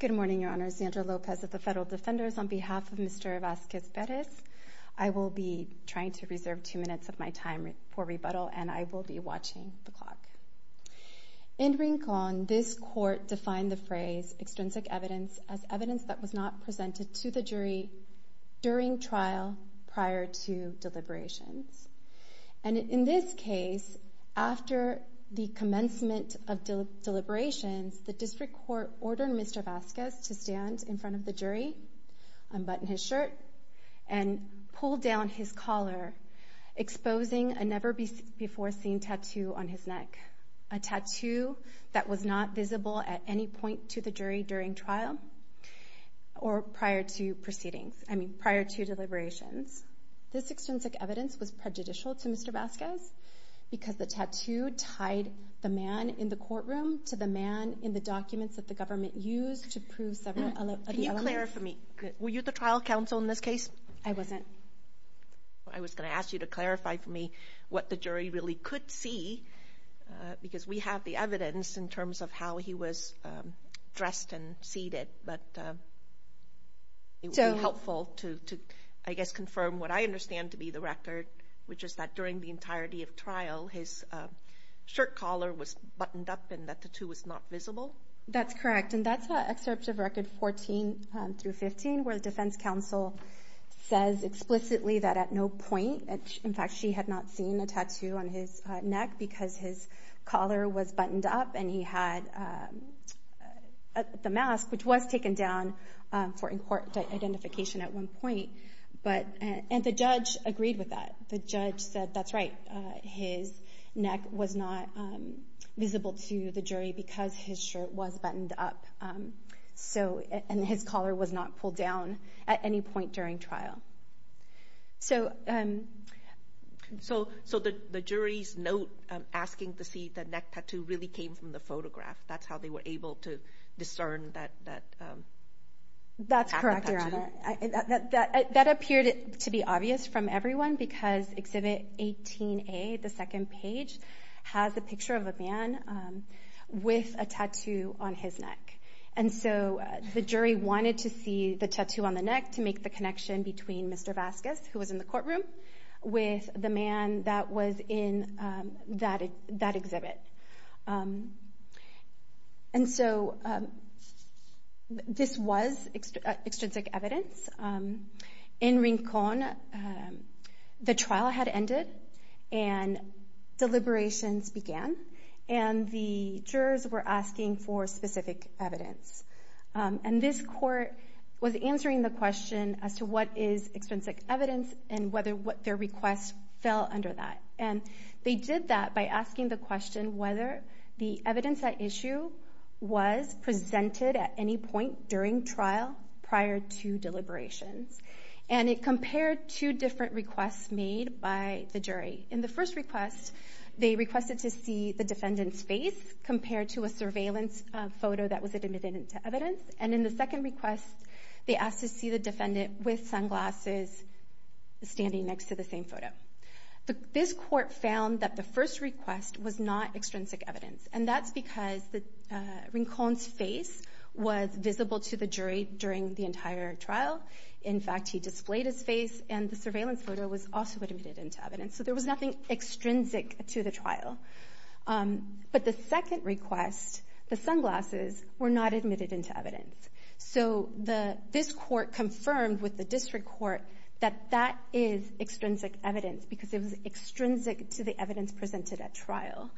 Good morning your honors, Sandra Lopez of the Federal Defenders. On behalf of Mr. Vasquez-Perez, I will be trying to reserve two minutes of my time for rebuttal and I will be watching the clock. In Rincon, this court defined the phrase extrinsic evidence as evidence that was not presented to the jury during trial prior to deliberations. In this case, after the commencement of deliberations, the district court ordered Mr. Vasquez to stand in front of the jury, unbutton his shirt, and pull down his collar, exposing a never before seen tattoo on his neck. A tattoo that was not visible at any point to the jury during trial or prior to deliberations. This extrinsic evidence was prejudicial to Mr. Vasquez because the tattoo tied the man in the courtroom to the man in the documents that the government used to prove several other elements. Can you clarify for me, were you the trial counsel in this case? I wasn't. I was going to ask you to clarify for me what the jury really could see because we have the evidence in terms of how he was dressed and seated, but it would be helpful to, I guess, confirm what I understand to be the record, which is that during the entirety of trial, his shirt collar was buttoned up and that tattoo was not visible? That's correct, and that's excerpt of record 14 through 15 where the defense counsel says explicitly that at no point, in fact, she had not seen a tattoo on his neck because his collar was buttoned up and he had the mask, which was taken down for identification at one point, and the judge agreed with that. The judge said, that's right, his neck was not visible to the jury because his shirt was buttoned up and his collar was not pulled down at any point during trial. So the jury's note asking to see the neck tattoo really came from the photograph. That's how they were able to discern that neck tattoo? That's correct, Your Honor. That appeared to be obvious from everyone because exhibit 18A, the second page, has a picture of a man with a tattoo on his neck. And so the jury wanted to see the tattoo on the neck to make the connection between Mr. Vasquez, who was in the courtroom, with the man that was in that exhibit. And so this was extrinsic evidence. In Rincon, the trial had ended and deliberations began and the jurors were asking for specific evidence. And this court was answering the question as to what is extrinsic evidence and whether their request fell under that. And they did that by asking the question whether the evidence at issue was presented at any point during trial prior to deliberations. And it compared two different requests made by the jury. In the first request, they requested to see the defendant's face compared to a surveillance photo that was admitted into evidence. And in the second request, they asked to see the First request was not extrinsic evidence. And that's because Rincon's face was visible to the jury during the entire trial. In fact, he displayed his face and the surveillance photo was also admitted into evidence. So there was nothing extrinsic to the trial. But the second request, the sunglasses, were not admitted into evidence. So this court confirmed with the district court that that is extrinsic evidence because it was extrinsic to the evidence presented at trial.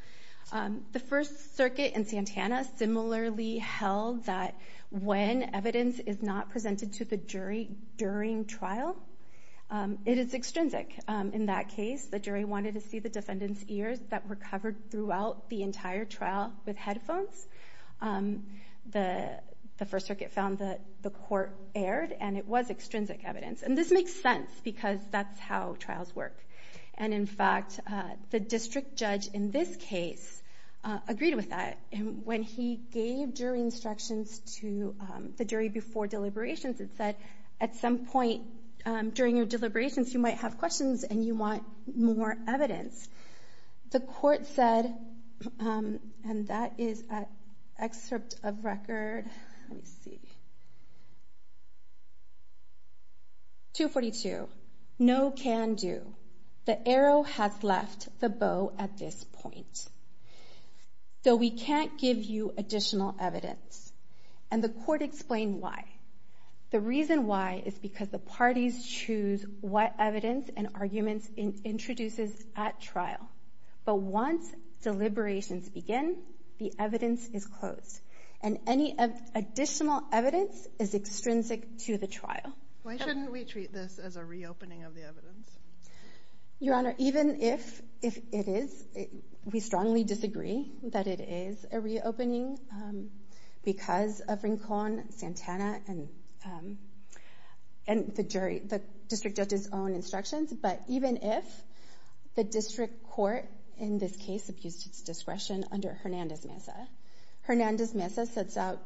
The First Circuit in Santana similarly held that when evidence is not presented to the jury during trial, it is extrinsic. In that case, the jury wanted to see the defendant's ears that were covered throughout the entire trial with headphones. The First Circuit found that the court erred and it was extrinsic evidence. And this makes sense because that's how trials work. And in fact, the district judge in this case agreed with that. When he gave jury instructions to the jury before deliberations, it said at some point during your deliberations, you might have questions and you want more evidence. The court said, and that is an excerpt of record. Let me see. 242. No can do. The arrow has left the bow at this point. Though we can't give you additional evidence. And the court explained why. The reason why is because the parties choose what evidence and arguments it introduces at trial. But once deliberations begin, the evidence is closed. And any additional evidence is extrinsic to the trial. Why shouldn't we treat this as a reopening of the evidence? Your Honor, even if it is, we strongly disagree that it is a reopening because of Rincon, Santana, and the jury, the district judge's own instructions. But even if the district court in this case abused its discretion under Hernandez-Mezza. Hernandez-Mezza sets out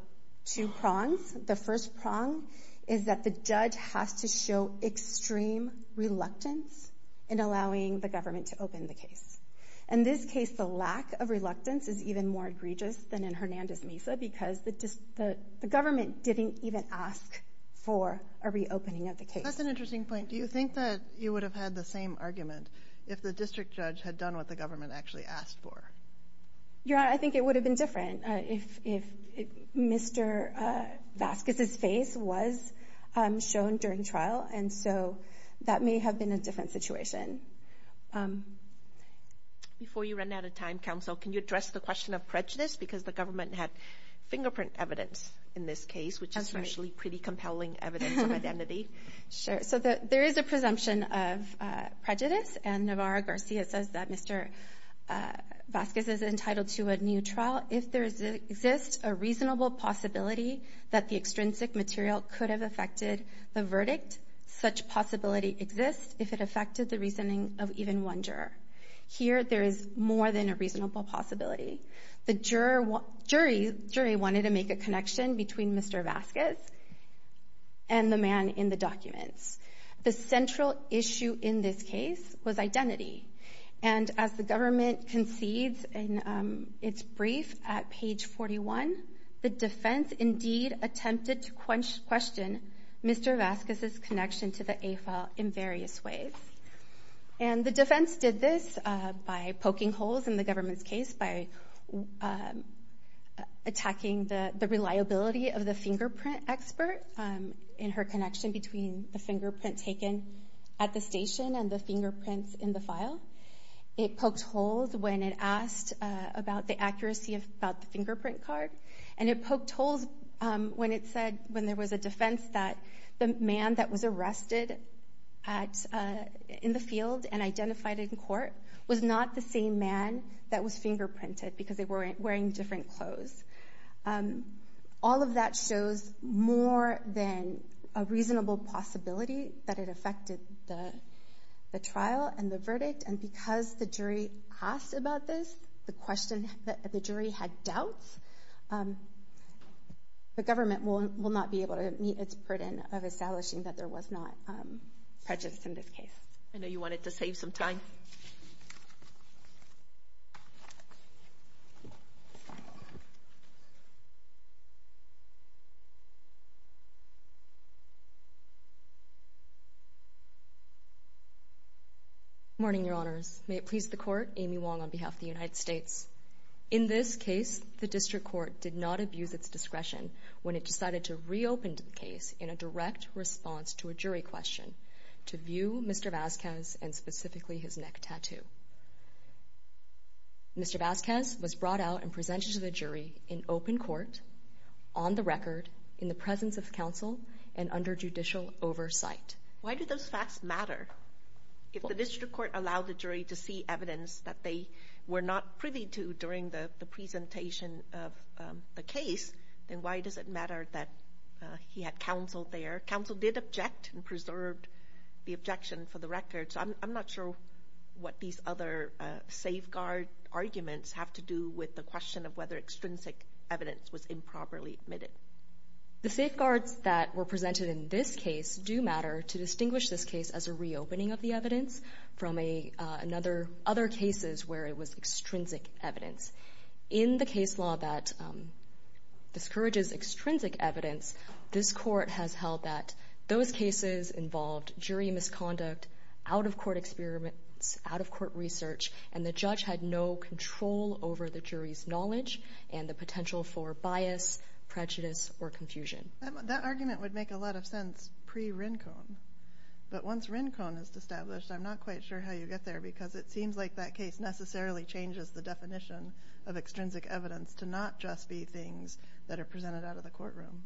two prongs. The first prong is that the judge has to show extreme reluctance in allowing the government to open the case. In this case, the lack of reluctance is even more egregious than in Hernandez-Mezza because the government didn't even ask for a reopening of the case. That's an interesting point. Do you think that you would have had the same argument if the district judge had done what the government actually asked for? Your Honor, I think it would have been different if Mr. Vasquez's face was shown during trial. And so that may have been a different situation. Before you run out of time, counsel, can you address the question of prejudice? Because the government had fingerprint evidence in this case, which is usually pretty compelling evidence of identity. Sure. So there is a presumption of prejudice. And Navarro-Garcia says that Mr. Vasquez is entitled to a new trial if there exists a reasonable possibility that the extrinsic material could have affected the verdict. Such possibility exists if it affected the reasoning of even one juror. Here, there is more than a reasonable possibility. The jury wanted to make a connection between Mr. Vasquez and the man in the documents. The central issue in this case was identity. And as the government concedes in its brief at page 41, the defense indeed attempted to question Mr. Vasquez's connection to the AFAL in various ways. And the defense did this by poking holes in the government's case, by attacking the reliability of the fingerprint expert in her connection between the fingerprint taken at the station and the fingerprints in the file. It poked holes when it asked about the accuracy of the fingerprint card. And it poked holes when it said, when there was a defense, that the man in the field and identified in court was not the same man that was fingerprinted because they were wearing different clothes. All of that shows more than a reasonable possibility that it affected the trial and the verdict. And because the jury asked about this, the question that the jury had doubts, the government will not be able to meet its burden of establishing that there was not prejudice in this case. I know you wanted to save some time. Good morning, Your Honors. May it please the Court, Amy Wong on behalf of the United States. In this case, the District Court did not abuse its discretion when it decided to reopen the case, and it did not have a direct response to a jury question to view Mr. Vazquez and specifically his neck tattoo. Mr. Vazquez was brought out and presented to the jury in open court, on the record, in the presence of counsel, and under judicial oversight. Why do those facts matter? If the District Court allowed the jury to see evidence that they were not privy to during the presentation of the case, then why does it matter that he had counsel there? Counsel did object and preserved the objection for the record, so I'm not sure what these other safeguard arguments have to do with the question of whether extrinsic evidence was improperly admitted. The safeguards that were presented in this case do matter to distinguish this case as a reopening of the evidence from another, other cases where it was extrinsic evidence. In the case law that discourages extrinsic evidence, this Court has held that those cases involved jury misconduct, out-of-court experiments, out-of-court research, and the judge had no control over the jury's knowledge and the potential for bias, prejudice, or confusion. That argument would make a lot of sense pre-Rincon, but once Rincon is established, I'm not quite sure how you get there, because it seems like that case necessarily changes the definition of extrinsic evidence to not just be things that are presented out of the courtroom.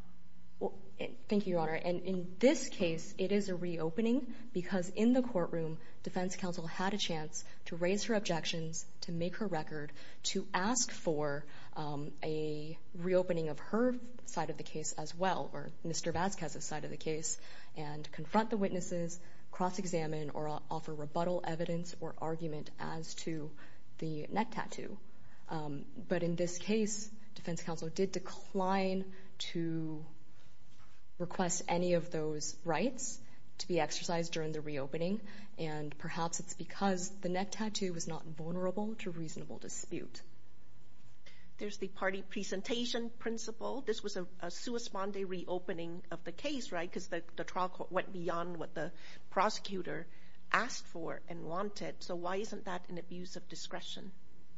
Thank you, Your Honor. In this case, it is a reopening, because in the courtroom, defense counsel had a chance to raise her objections, to make her record, to ask for a reopening of her side of the case as well, or Mr. Vazquez's side of the case, and confront the witnesses, cross-examine, or offer rebuttal evidence or argument as to the neck tattoo. But in this case, defense counsel did decline to request any of those rights to be exercised during the reopening, and perhaps it's because the neck tattoo was not vulnerable to reasonable dispute. There's the party presentation principle. This was a sui sponde reopening of the case, because the trial court went beyond what the prosecutor asked for and wanted, so why isn't that an abuse of discretion?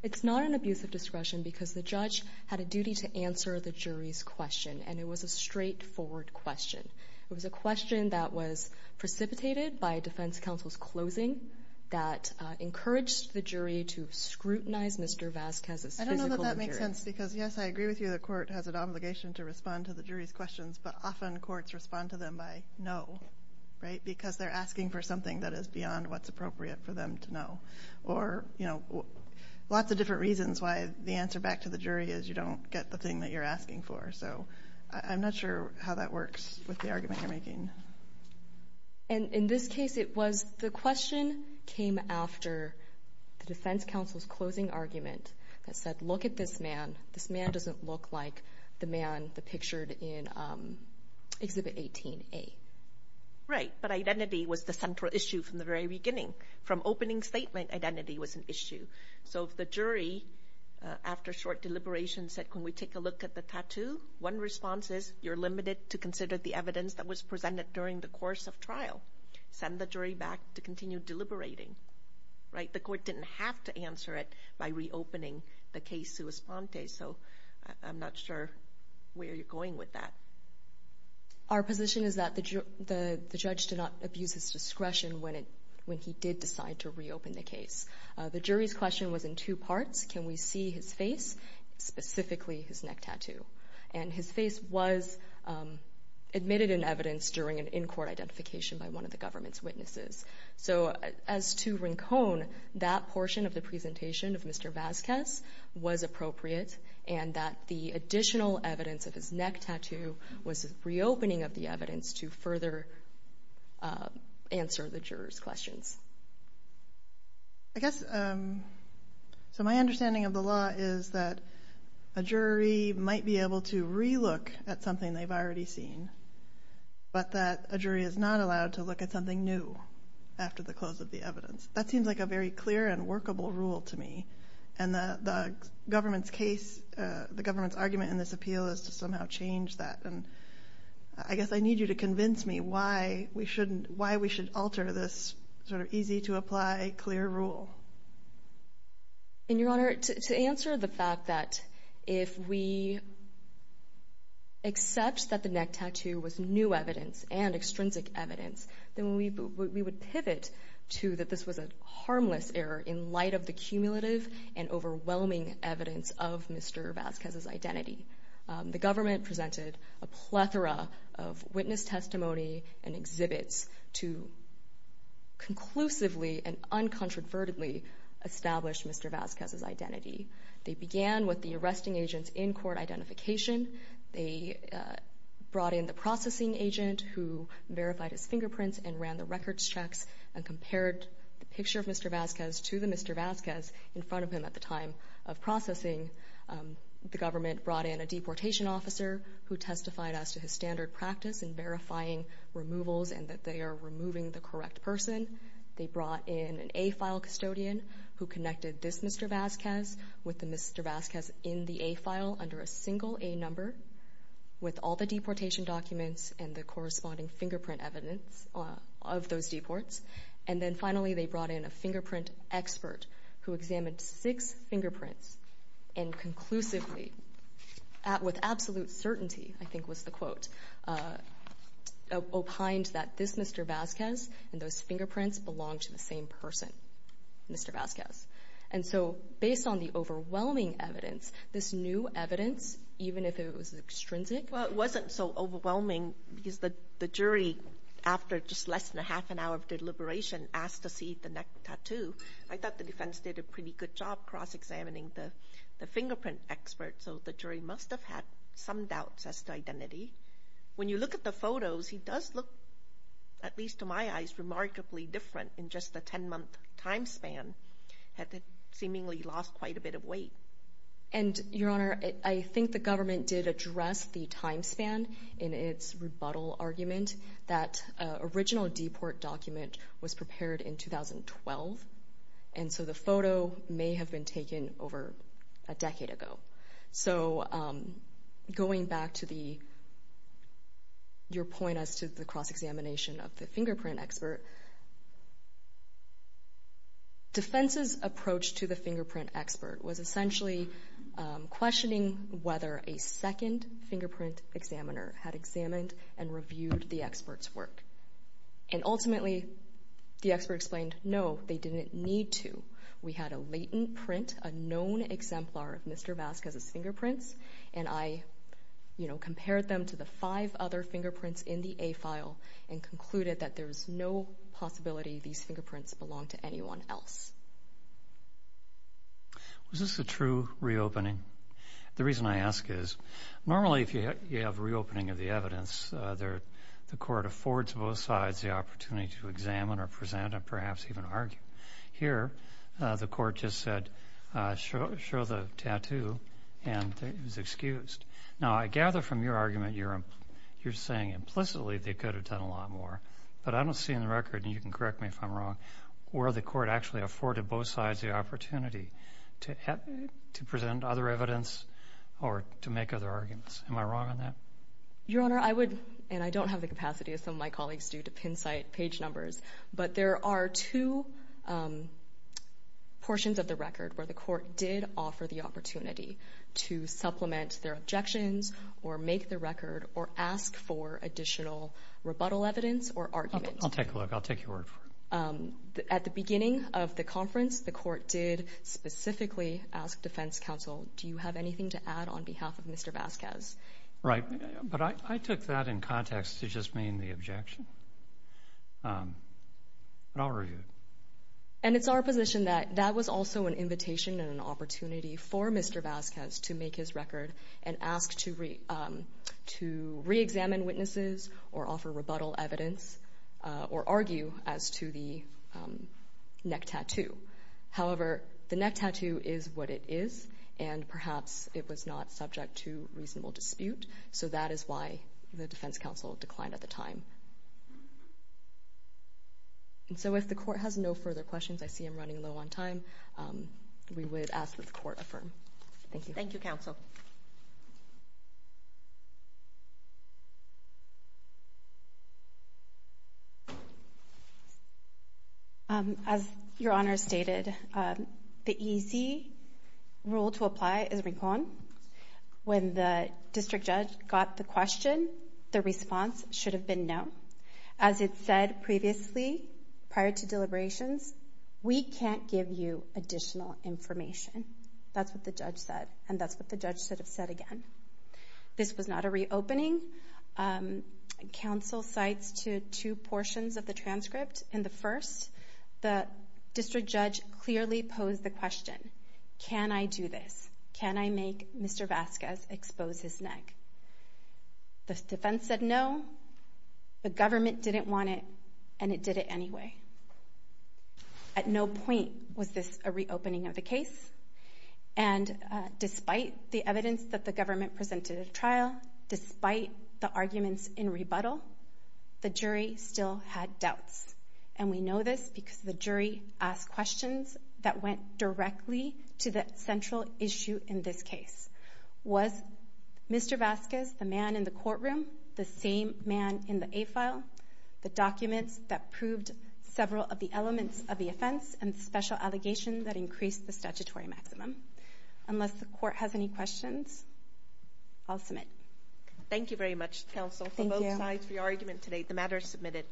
It's not an abuse of discretion, because the judge had a duty to answer the jury's question, and it was a straightforward question. It was a question that was precipitated by defense counsel's closing that encouraged the jury to scrutinize Mr. Vazquez's physical appearance. I don't know that that makes sense, because yes, I agree with you, the court has an obligation to respond to the jury's questions, but often courts respond to them by no, right, because they're asking for something that is beyond what's appropriate for them to know. Or, you know, lots of different reasons why the answer back to the jury is you don't get the thing that you're asking for, so I'm not sure how that works with the argument you're making. And in this case, it was the question came after the defense counsel's closing argument that said, look at this man. This man doesn't look like the man depicted in Exhibit 18A. Right, but identity was the central issue from the very beginning. From opening statement, identity was an issue. So if the jury, after short deliberation, said, can we take a look at the tattoo? One response is, you're limited to consider the evidence that was presented during the course of trial. Send the jury back to continue deliberating, right? The court didn't have to answer it by reopening the case sua sponte, so I'm not sure where you're going with that. Our position is that the judge did not abuse his discretion when he did decide to reopen the case. The jury's question was in two parts. Can we see his face, specifically his neck tattoo? And his face was admitted in evidence during an in-court identification by one of the government's witnesses. So as to Rincon, that portion of the presentation of Mr. Vasquez was appropriate, and that the additional evidence of his neck tattoo was reopening of the evidence to further answer the jurors' questions. I guess, so my understanding of the law is that a jury might be able to re-look at something they've already seen, but that a jury is not allowed to look at something new after the close of the evidence. That seems like a very clear and workable rule to me, and the government's case, the government's argument in this appeal is to somehow change that. And I guess I need you to convince me why we shouldn't, why we should alter this sort of easy to apply, clear rule. In your honor, to answer the fact that if we accept that the neck tattoo was new evidence and extrinsic evidence, then we would pivot to that this was a harmless error in light of the cumulative and overwhelming evidence of Mr. Vasquez's identity. The government presented a plethora of witness testimony and exhibits to conclusively and uncontrovertedly establish Mr. Vasquez's identity. They began with the arresting agent's in-court identification. They brought in the processing agent who verified his fingerprints and ran the records checks and compared the picture of Mr. Vasquez to the Mr. Vasquez in front of him at the time of processing. The government brought in a deportation officer who testified as to his standard practice in verifying removals and that they are removing the correct person. They brought in an A-file custodian who connected this Mr. Vasquez with the Mr. Vasquez in the A-file under a single A-number with all the deportation documents and the corresponding fingerprint evidence of those deports. And then finally, they brought in a fingerprint expert who examined six fingerprints and conclusively, with absolute certainty, I think was the quote, opined that this Mr. Vasquez and those fingerprints belong to the same person, Mr. Vasquez. And so, based on the overwhelming evidence, this new evidence, even if it was extrinsic? Well, it wasn't so overwhelming because the jury, after just less than a half an hour of deliberation, asked to see the neck tattoo. I thought the defense did a pretty good job cross-examining the fingerprint expert, so the jury must have had some doubts as to identity. When you look at the photos, he does look, at least to my eyes, remarkably different in just a 10-month time span, had seemingly lost quite a bit of weight. And Your Honor, I think the government did address the time span in its rebuttal argument that an original deport document was prepared in 2012, and so the photo may have been taken over a decade ago. So, going back to your point as to the cross-examination of the fingerprint expert, defense's approach to the fingerprint expert was essentially questioning whether a second fingerprint examiner had examined and reviewed the expert's work. And ultimately, the expert explained, no, they didn't need to. We had a latent print, a known exemplar of Mr. Vasquez's fingerprint, compared them to the five other fingerprints in the A-file, and concluded that there's no possibility these fingerprints belong to anyone else. Was this a true reopening? The reason I ask is, normally if you have a reopening of the evidence, the court affords both sides the opportunity to examine or present and perhaps even argue. Here, the court just said, show the tattoo, and it was excused. Now, I gather from your argument, you're saying implicitly they could have done a lot more, but I don't see in the record, and you can correct me if I'm wrong, where the court actually afforded both sides the opportunity to present other evidence or to make other arguments. Am I wrong on that? Your Honor, I would, and I don't have the capacity as some of my colleagues do, to pin site page numbers, but there are two portions of the record where the court did offer the opportunity to supplement their objections or make the record or ask for additional rebuttal evidence or argument. I'll take a look. I'll take your word for it. At the beginning of the conference, the court did specifically ask defense counsel, do you have anything to add on behalf of Mr. Vasquez? Right, but I took that in context to just mean the objection, but I'll review it. It's our position that that was also an invitation and an opportunity for Mr. Vasquez to make his record and ask to reexamine witnesses or offer rebuttal evidence or argue as to the neck tattoo. However, the neck tattoo is what it is, and perhaps it was not subject to reasonable dispute, so that is why the defense counsel declined at the time. And so if the court has no further questions, I see I'm running low on time, we would ask that the court affirm. Thank you. Thank you, counsel. Thank you. As your honor stated, the easy rule to apply is recon. When the district judge got the question, the response should have been no. As it said previously, prior to deliberations, we can't give you additional information. That's what the judge said, and that's what the judge should have said again. This was not a reopening. Counsel cites two portions of the transcript. In the first, the district judge clearly posed the question, can I do this? Can I make Mr. Vasquez expose his neck? The defense said no. The government didn't want it, and it did it anyway. At no point was this a reopening of the case, and despite the evidence that the government presented at trial, despite the arguments in rebuttal, the jury still had doubts. And we know this because the jury asked questions that went directly to the central issue in this case. Was Mr. Vasquez, the man in the courtroom, the same man in the A-file, the documents that proved several of the elements of the offense and special allegations that increased the statutory maximum? Unless the court has any questions, I'll submit. Thank you very much, counsel, for both sides for your argument today. The matter is submitted.